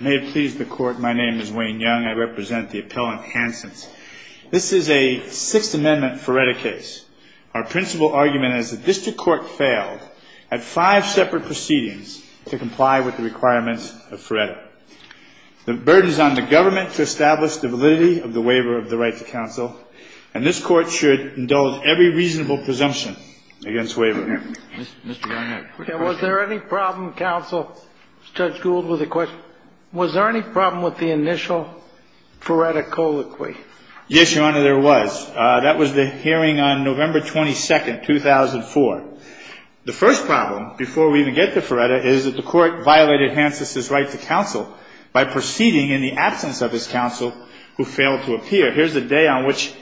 May it please the court, my name is Wayne Young. I represent the appellant Hantzis. This is a Sixth Amendment Feretta case. Our principal argument is the district court failed at five separate proceedings to comply with the requirements of Feretta. The burden is on the government to establish the validity of the waiver of the rights of counsel, and this court should indulge every reasonable presumption against waiver. Mr. Young, I have a quick question. Was there any problem, counsel? Judge Gould with a question. Was there any problem with the initial Feretta colloquy? Yes, Your Honor, there was. That was the hearing on November 22, 2004. The first problem, before we even get to Feretta, is that the court violated Hantzis' right to counsel by proceeding in the absence of his counsel, who failed to appear. Here's a day on which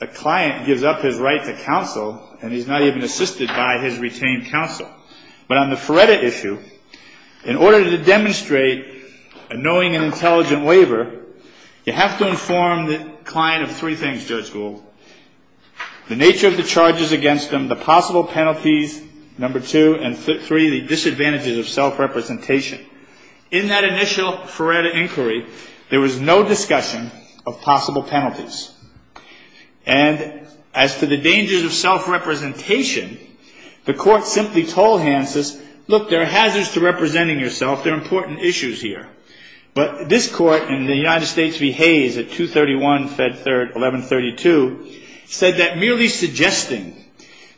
a client gives up his right to counsel, and he's not even assisted by his retained counsel. But on the Feretta issue, in order to demonstrate a knowing and intelligent waiver, you have to inform the client of three things, Judge Gould. The nature of the charges against him, the possible penalties, number two, and three, the disadvantages of self-representation. In that initial Feretta inquiry, there was no discussion of possible penalties. And as for the dangers of self-representation, the court simply told Hantzis, look, there are hazards to representing yourself. There are important issues here. But this court in the United States v. Hayes at 231, Fed Third, 1132, said that merely suggesting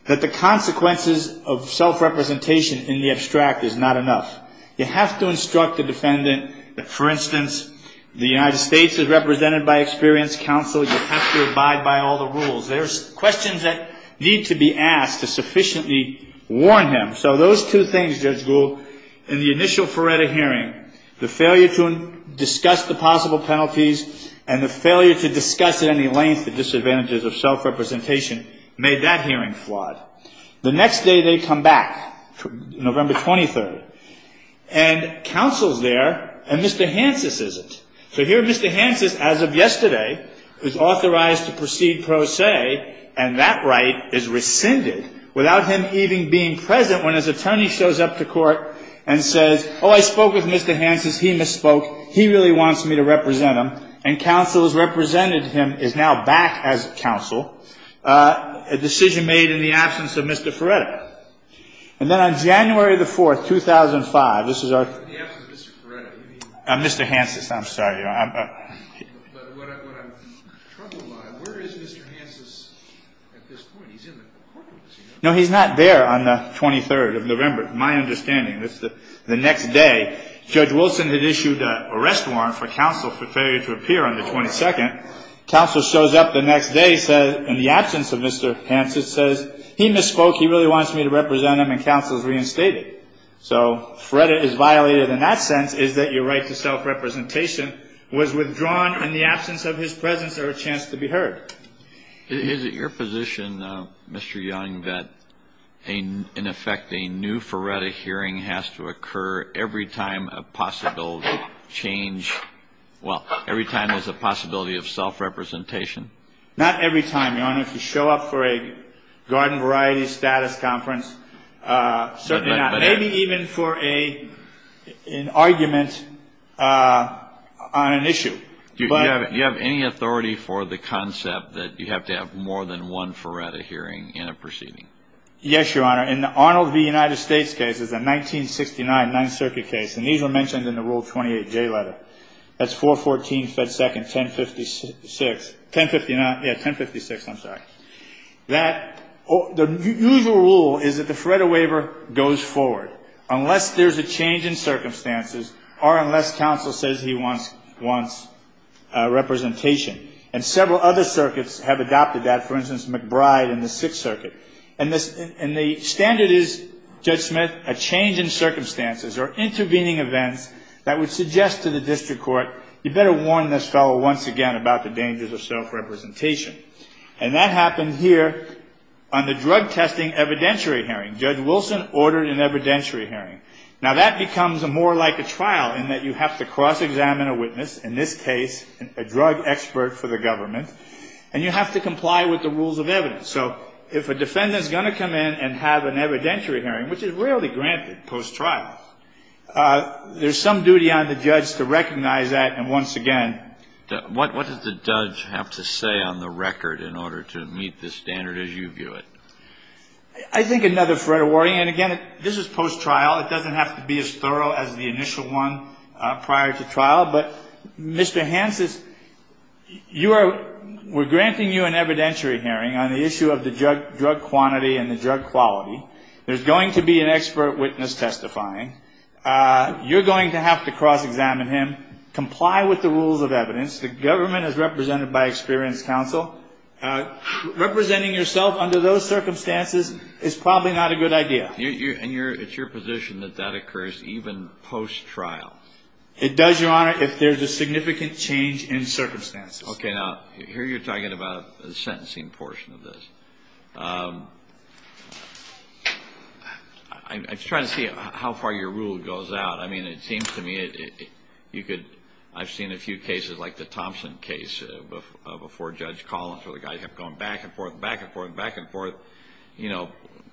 that the consequences of self-representation in the abstract is not enough. You have to instruct the defendant that, for instance, the United States is represented by experienced counsel. You have to abide by all the rules. There's questions that need to be asked to sufficiently warn him. So those two things, Judge Gould, in the initial Feretta hearing, the failure to discuss the possible penalties and the failure to discuss at any length the disadvantages of self-representation, made that hearing flawed. The next day they come back, November 23rd. And counsel's there, and Mr. Hantzis isn't. So here Mr. Hantzis, as of yesterday, is authorized to proceed pro se, and that right is rescinded without him even being present when his attorney shows up to court and says, oh, I spoke with Mr. Hantzis. He misspoke. He really wants me to represent him. And counsel has represented him, is now back as counsel. A decision made in the absence of Mr. Feretta. And then on January the 4th, 2005, this is our- In the absence of Mr. Feretta, you mean? Mr. Hantzis, I'm sorry. But what I'm troubled by, where is Mr. Hantzis at this point? He's in the courtroom. No, he's not there on the 23rd of November, my understanding. The next day, Judge Wilson had issued an arrest warrant for counsel for failure to appear on the 22nd. Counsel shows up the next day and in the absence of Mr. Hantzis says, he misspoke. He really wants me to represent him, and counsel is reinstated. So Feretta is violated in that sense, is that your right to self-representation was withdrawn in the absence of his presence or a chance to be heard. Is it your position, Mr. Young, that in effect a new Feretta hearing has to occur every time a possible change- Not every time, Your Honor. If you show up for a garden variety status conference, certainly not. Maybe even for an argument on an issue. Do you have any authority for the concept that you have to have more than one Feretta hearing in a proceeding? Yes, Your Honor. In the Arnold v. United States case, it's a 1969 Ninth Circuit case, and these were mentioned in the Rule 28J letter. That's 414 Fed 2nd, 1056. Yeah, 1056, I'm sorry. The usual rule is that the Feretta waiver goes forward unless there's a change in circumstances or unless counsel says he wants representation. And several other circuits have adopted that. For instance, McBride in the Sixth Circuit. And the standard is, Judge Smith, a change in circumstances or intervening events that would suggest to the district court, you better warn this fellow once again about the dangers of self-representation. And that happened here on the drug testing evidentiary hearing. Judge Wilson ordered an evidentiary hearing. Now, that becomes more like a trial in that you have to cross-examine a witness, in this case a drug expert for the government, and you have to comply with the rules of evidence. So if a defendant is going to come in and have an evidentiary hearing, which is rarely granted post-trial, there's some duty on the judge to recognize that and once again. What does the judge have to say on the record in order to meet the standard as you view it? I think another Feretta warning, and again, this is post-trial. It doesn't have to be as thorough as the initial one prior to trial. But, Mr. Hansen, you are we're granting you an evidentiary hearing on the issue of the drug quantity and the drug quality. There's going to be an expert witness testifying. You're going to have to cross-examine him, comply with the rules of evidence. The government is represented by experienced counsel. Representing yourself under those circumstances is probably not a good idea. And it's your position that that occurs even post-trial? It does, Your Honor, if there's a significant change in circumstances. Okay, now, here you're talking about the sentencing portion of this. I'm trying to see how far your rule goes out. I mean, it seems to me you could I've seen a few cases like the Thompson case before Judge Collins where the guy kept going back and forth, back and forth, back and forth. You know,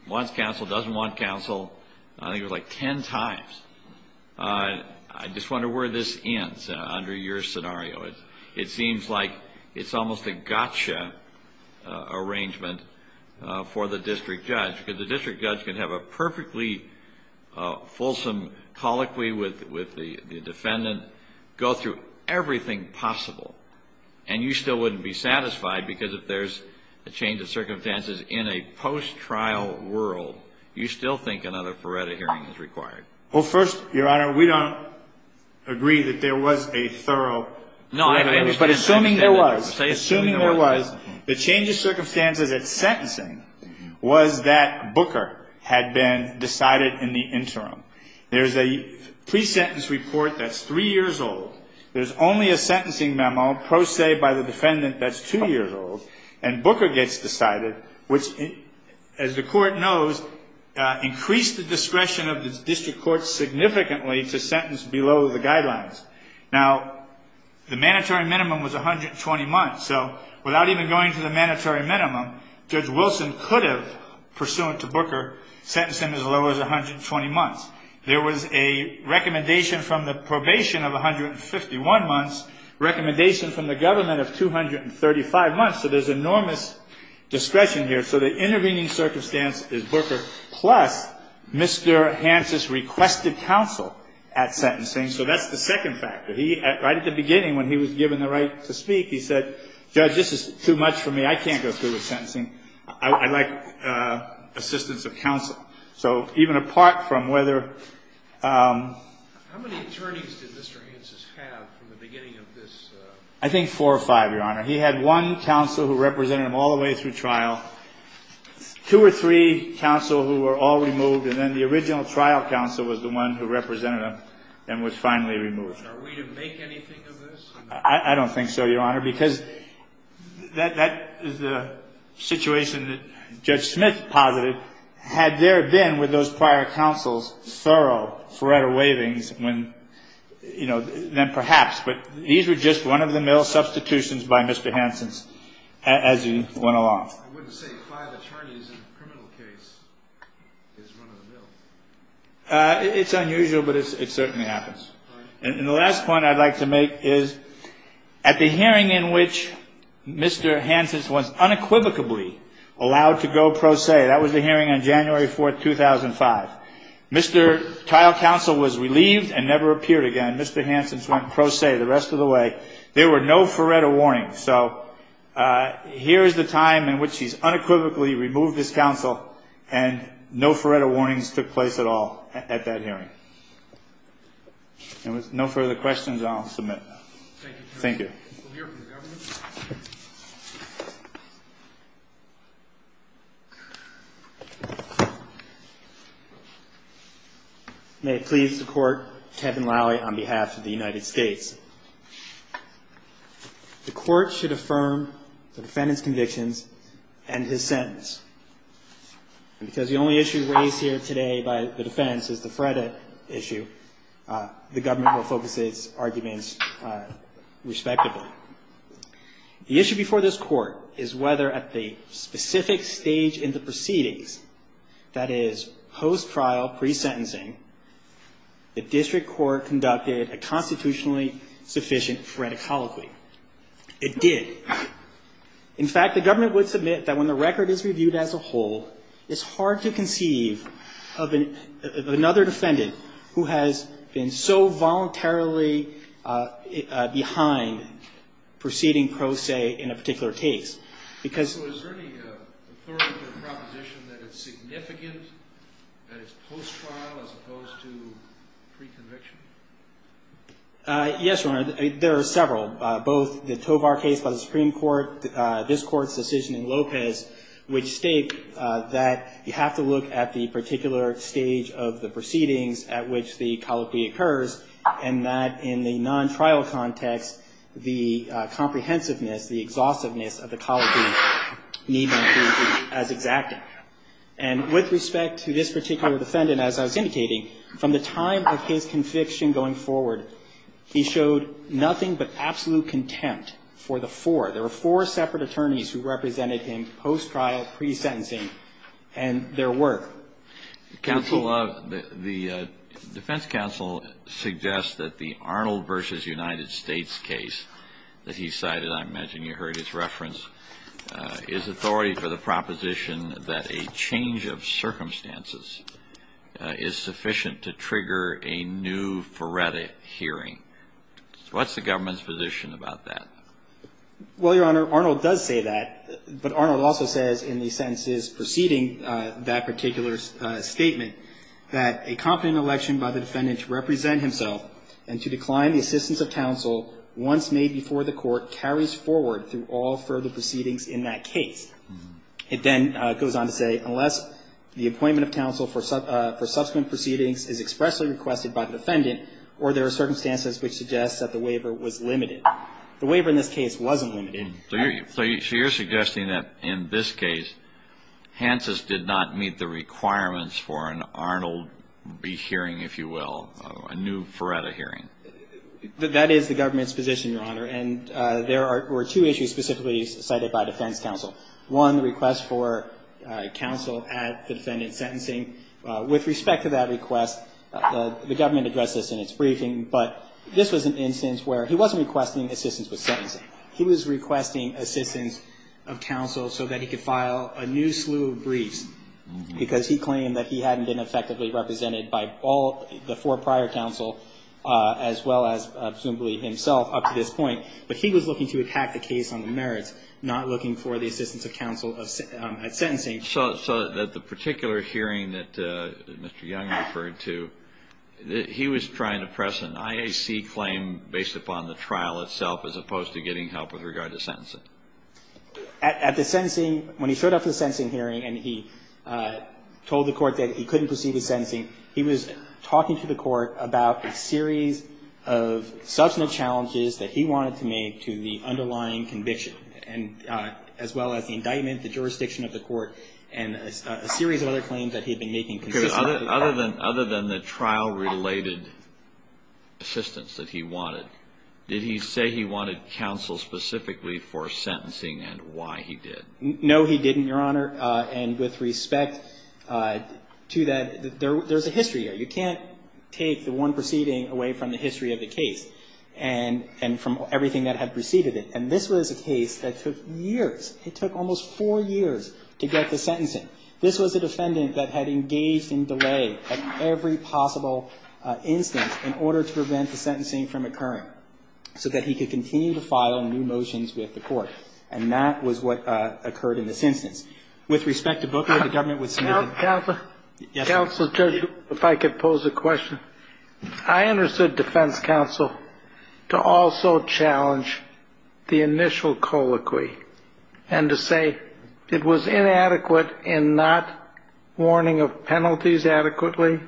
wants counsel, doesn't want counsel. I think it was like ten times. I just wonder where this ends under your scenario. It seems like it's almost a gotcha arrangement for the district judge because the district judge can have a perfectly fulsome colloquy with the defendant, go through everything possible, and you still wouldn't be satisfied because if there's a change of circumstances in a post-trial world, you still think another Ferretta hearing is required. Well, first, Your Honor, we don't agree that there was a thorough. No, I understand. But assuming there was, assuming there was, the change of circumstances at sentencing was that Booker had been decided in the interim. There's a pre-sentence report that's three years old. There's only a sentencing memo pro se by the defendant that's two years old, and Booker gets decided, which, as the court knows, increased the discretion of the district court significantly to sentence below the guidelines. Now, the mandatory minimum was 120 months. So without even going to the mandatory minimum, Judge Wilson could have, pursuant to Booker, sentenced him as low as 120 months. There was a recommendation from the probation of 151 months, recommendation from the government of 235 months, so there's enormous discretion here. So the intervening circumstance is Booker plus Mr. Hansen's requested counsel at sentencing. So that's the second factor. He, right at the beginning when he was given the right to speak, he said, Judge, this is too much for me. I can't go through with sentencing. I'd like assistance of counsel. So even apart from whether. How many attorneys did Mr. Hansen have from the beginning of this? I think four or five, Your Honor. He had one counsel who represented him all the way through trial, two or three counsel who were all removed, and then the original trial counsel was the one who represented him and was finally removed. Are we to make anything of this? I don't think so, Your Honor, because that is the situation that Judge Smith posited. Had there been, with those prior counsels, thorough, thorough waivings, then perhaps, but these were just one of the mill substitutions by Mr. Hansen as he went along. I wouldn't say five attorneys in a criminal case is one of the mill. It's unusual, but it certainly happens. And the last point I'd like to make is at the hearing in which Mr. Hansen was unequivocally allowed to go pro se, that was the hearing on January 4th, 2005. Mr. Trial counsel was relieved and never appeared again. Mr. Hansen went pro se the rest of the way. There were no Faretta warnings. So here is the time in which he's unequivocally removed his counsel and no Faretta warnings took place at all at that hearing. And with no further questions, I'll submit. Thank you. Thank you. May it please the Court, Kevin Lally on behalf of the United States. The Court should affirm the defendant's convictions and his sentence. Because the only issue raised here today by the defense is the Faretta issue, the government will focus its arguments respectively. The issue before this Court is whether at the specific stage in the proceedings, that is, post-trial pre-sentencing, the district court conducted a constitutionally sufficient Faretta colloquy. It did. In fact, the government would submit that when the record is reviewed as a whole, it's hard to conceive of another defendant who has been so voluntarily behind proceeding pro se in a particular case. So is there any authority to the proposition that it's significant, that it's post-trial as opposed to pre-conviction? Yes, Your Honor. There are several, both the Tovar case by the Supreme Court, this Court's decision in Lopez, which state that you have to look at the particular stage of the proceedings at which the colloquy occurs, and that in the non-trial context, the comprehensiveness, the exhaustiveness of the colloquy need not be as exact. And with respect to this particular defendant, as I was indicating, from the time of his conviction going forward, he showed nothing but absolute contempt for the four. There were four separate attorneys who represented him post-trial, pre-sentencing, and their work. Counsel, the defense counsel suggests that the Arnold v. United States case that he cited, I imagine you heard his reference, is authority for the proposition that a change of circumstances is sufficient to trigger a new Faretta hearing. What's the government's position about that? Well, Your Honor, Arnold does say that, but Arnold also says in the sentences preceding that particular statement, that a competent election by the defendant to represent himself and to decline the assistance of counsel once made before the court carries forward through all further proceedings in that case. It then goes on to say, unless the appointment of counsel for subsequent proceedings is expressly requested by the defendant or there are circumstances which suggest that the waiver was limited. The waiver in this case wasn't limited. So you're suggesting that in this case, Hansen's did not meet the requirements for an Arnold v. hearing, if you will, a new Faretta hearing. That is the government's position, Your Honor, and there were two issues specifically cited by defense counsel. One, the request for counsel at the defendant's sentencing. With respect to that request, the government addressed this in its briefing, but this was an instance where he wasn't requesting assistance with sentencing. He was requesting assistance of counsel so that he could file a new slew of briefs because he claimed that he hadn't been effectively represented by all the four prior counsel as well as presumably himself up to this point. But he was looking to attack the case on the merits, not looking for the assistance of counsel at sentencing. So that the particular hearing that Mr. Young referred to, he was trying to press an IAC claim based upon the trial itself as opposed to getting help with regard to sentencing. At the sentencing, when he showed up for the sentencing hearing and he told the court that he couldn't proceed with sentencing, he was talking to the court about a series of substantive challenges that he wanted to make to the underlying conviction, as well as the indictment, the jurisdiction of the court, and a series of other claims that he had been making. Alito, other than the trial-related assistance that he wanted, did he say he wanted counsel specifically for sentencing and why he did? No, he didn't, Your Honor. And with respect to that, there's a history here. You can't take the one proceeding away from the history of the case and from everything that had preceded it. And this was a case that took years. It took almost four years to get the sentencing. This was a defendant that had engaged in delay at every possible instance in order to prevent the sentencing from occurring so that he could continue to file new motions with the court. And that was what occurred in this instance. With respect to Booker, the government was submitted to counsel. Counsel, Judge, if I could pose a question. I understood defense counsel to also challenge the initial colloquy and to say it was inadequate in not warning of penalties adequately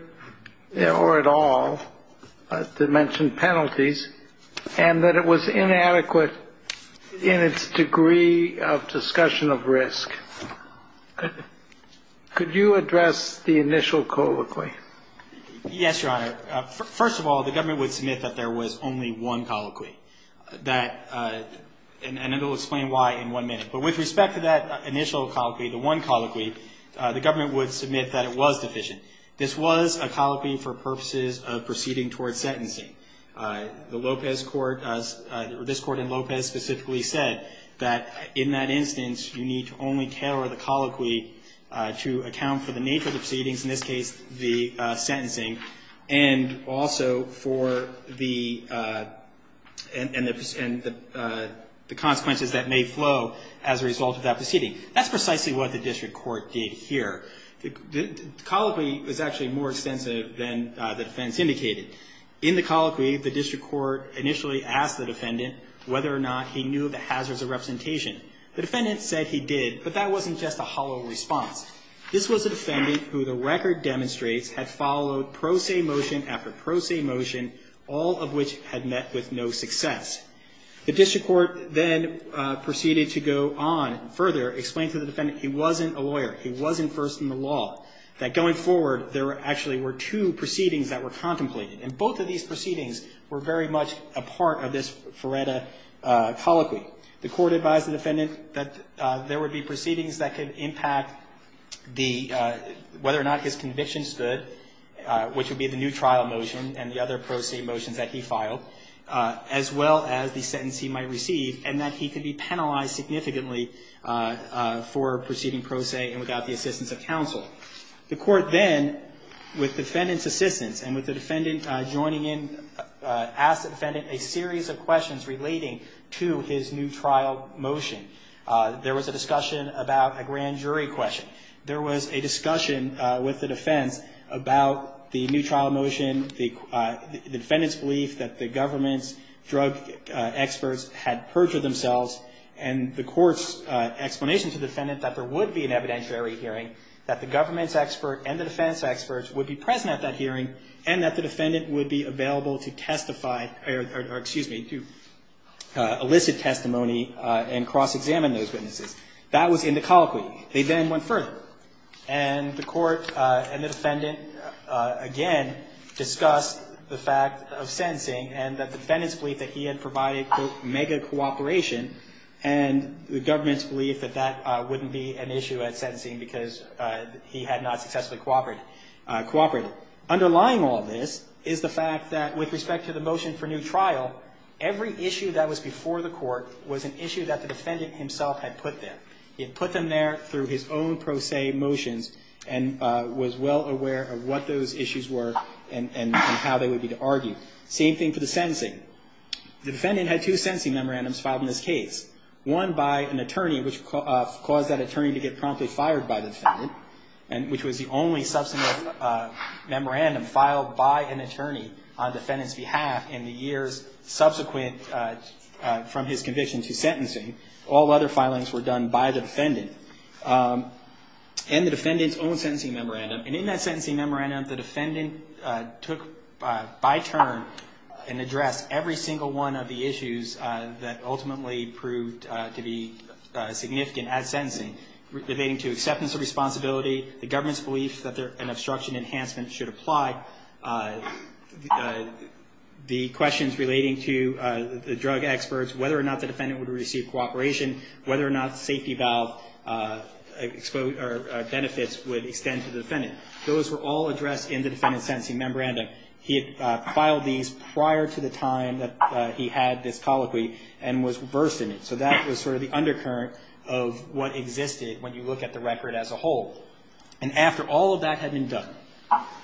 or at all, to mention penalties, and that it was inadequate in its degree of discussion of risk. Could you address the initial colloquy? Yes, Your Honor. First of all, the government would submit that there was only one colloquy. And it will explain why in one minute. But with respect to that initial colloquy, the one colloquy, the government would submit that it was deficient. This was a colloquy for purposes of proceeding towards sentencing. This Court in Lopez specifically said that in that instance, you need to only tailor the colloquy to account for the nature of the proceedings, in this case the sentencing, and also for the consequences that may flow as a result of that proceeding. That's precisely what the district court did here. The colloquy was actually more extensive than the defense indicated. In the colloquy, the district court initially asked the defendant whether or not he knew the hazards of representation. The defendant said he did, but that wasn't just a hollow response. This was a defendant who the record demonstrates had followed pro se motion after pro se motion, all of which had met with no success. The district court then proceeded to go on further, explain to the defendant he wasn't a lawyer, he wasn't first in the law, that going forward there actually were two proceedings that were contemplated. And both of these proceedings were very much a part of this Feretta colloquy. The court advised the defendant that there would be proceedings that could impact whether or not his convictions stood, which would be the new trial motion and the other pro se motions that he filed, as well as the sentence he might receive, and that he could be penalized significantly for proceeding pro se and without the assistance of counsel. The court then, with the defendant's assistance and with the defendant joining in, asked the defendant a series of questions relating to his new trial motion. There was a discussion about a grand jury question. There was a discussion with the defense about the new trial motion, the defendant's belief that the government's drug experts had perjured themselves, and the court's explanation to the defendant that there would be an evidentiary hearing, that the government's expert and the defense experts would be present at that hearing, and that the defendant would be available to testify or, excuse me, to elicit testimony and cross-examine those witnesses. That was in the colloquy. They then went further, and the court and the defendant again discussed the fact of sentencing and that the defendant's belief that he had provided, quote, mega cooperation and the government's belief that that wouldn't be an issue at sentencing because he had not successfully cooperated. Underlying all this is the fact that, with respect to the motion for new trial, every issue that was before the court was an issue that the defendant himself had put there. He had put them there through his own pro se motions and was well aware of what those issues were and how they would be argued. Same thing for the sentencing. The defendant had two sentencing memorandums filed in this case, one by an attorney which caused that attorney to get promptly fired by the defendant, which was the only substantive memorandum filed by an attorney on the defendant's behalf in the years subsequent from his conviction to sentencing. All other filings were done by the defendant and the defendant's own sentencing memorandum. And in that sentencing memorandum, the defendant took by turn and addressed every single one of the issues that ultimately proved to be significant at sentencing, relating to acceptance of responsibility, the government's belief that an obstruction enhancement should apply, the questions relating to the drug experts, whether or not the defendant would receive cooperation, whether or not safety valve benefits would extend to the defendant. Those were all addressed in the defendant's sentencing memorandum. He had filed these prior to the time that he had this colloquy and was versed in it. So that was sort of the undercurrent of what existed when you look at the record as a whole. And after all of that had been done,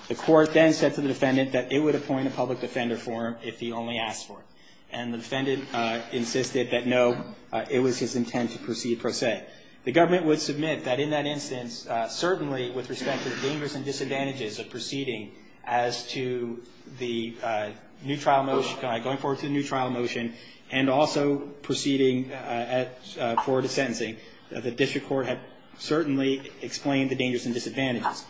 the court then said to the defendant that it would appoint a public defender for him if he only asked for it. And the defendant insisted that no, it was his intent to proceed pro se. The government would submit that in that instance, certainly with respect to the dangers and disadvantages of proceeding as to the new trial motion, and also proceeding for the sentencing, the district court had certainly explained the dangers and disadvantages.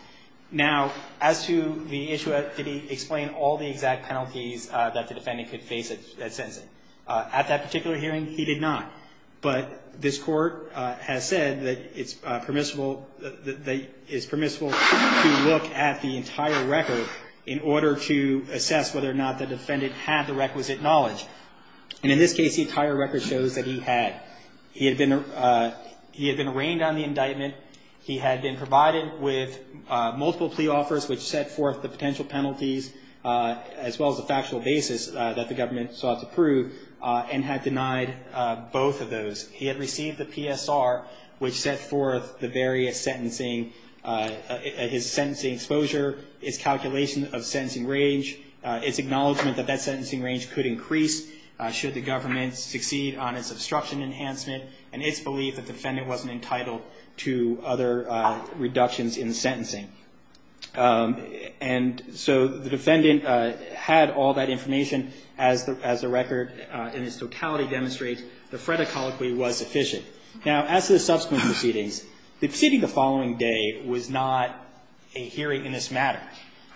Now, as to the issue, did he explain all the exact penalties that the defendant could face at sentencing? At that particular hearing, he did not. But this court has said that it's permissible to look at the entire record in order to assess whether or not the defendant had the requisite knowledge. And in this case, the entire record shows that he had. He had been arraigned on the indictment. He had been provided with multiple plea offers, which set forth the potential penalties as well as the factual basis that the government sought to prove, and had denied both of those. He had received the PSR, which set forth the various sentencing, his sentencing exposure, his calculation of sentencing range, his acknowledgment that that sentencing range could increase should the government succeed on its obstruction enhancement, and its belief that the defendant wasn't entitled to other reductions in the sentencing. And so the defendant had all that information. As the record in its totality demonstrates, the Freda colloquy was sufficient. Now, as to the subsequent proceedings, the proceeding the following day was not a hearing in this matter.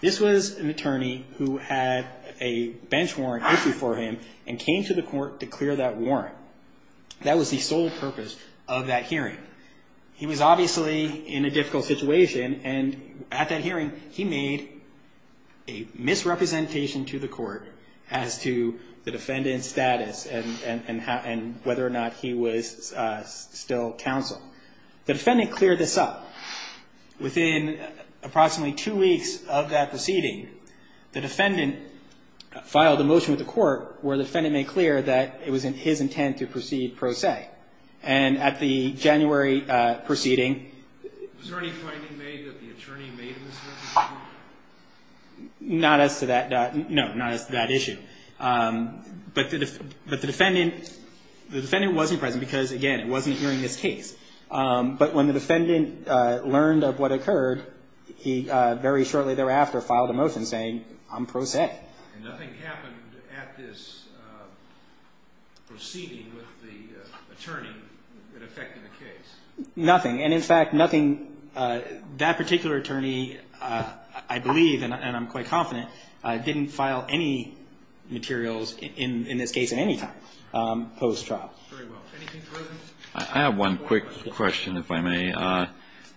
This was an attorney who had a bench warrant issued for him and came to the court to clear that warrant. That was the sole purpose of that hearing. He was obviously in a difficult situation, and at that hearing he made a misrepresentation to the court as to the defendant's status and whether or not he was still counsel. The defendant cleared this up. Within approximately two weeks of that proceeding, the defendant filed a motion with the court where the defendant made clear that it was in his intent to proceed pro se. And at the January proceeding... Was there any finding made that the attorney made a misrepresentation? Not as to that. No, not as to that issue. But the defendant wasn't present because, again, it wasn't during this case. But when the defendant learned of what occurred, he very shortly thereafter filed a motion saying, I'm pro se. And nothing happened at this proceeding with the attorney that affected the case? Nothing. And, in fact, nothing... That particular attorney, I believe, and I'm quite confident, didn't file any materials in this case at any time post-trial. Very well. Anything further? I have one quick question, if I may.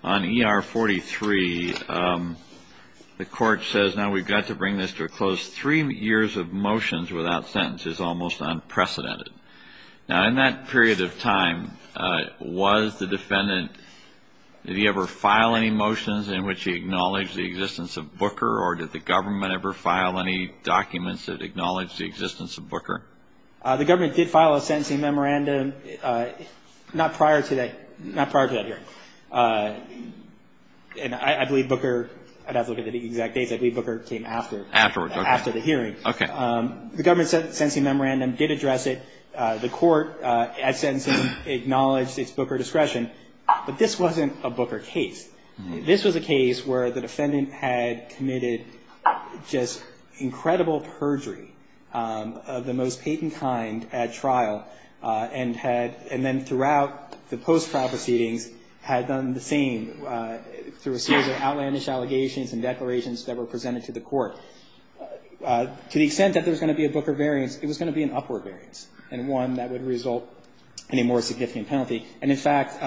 On ER 43, the court says, now we've got to bring this to a close. Three years of motions without sentences is almost unprecedented. Now, in that period of time, was the defendant... Did he ever file any motions in which he acknowledged the existence of Booker or did the government ever file any documents that acknowledged the existence of Booker? The government did file a sentencing memorandum not prior to that hearing. And I believe Booker... I'd have to look at the exact dates. I believe Booker came after. Afterward, okay. After the hearing. Okay. The government sentencing memorandum did address it. The court, at sentencing, acknowledged its Booker discretion. But this wasn't a Booker case. This was a case where the defendant had committed just incredible perjury of the most patent kind at trial and then throughout the post-trial proceedings had done the same through a series of outlandish allegations and declarations that were presented to the court. To the extent that there was going to be a Booker variance, it was going to be an upward variance and one that would result in a more significant penalty. And in fact,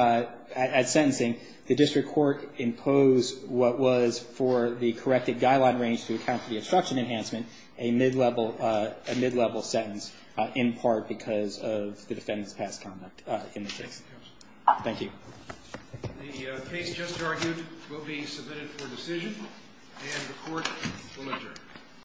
at sentencing, the district court imposed what was for the corrected guideline range to account for the obstruction enhancement, a mid-level sentence, in part because of the defendant's past conduct in the case. Thank you. The case just argued will be submitted for decision and the court will adjourn.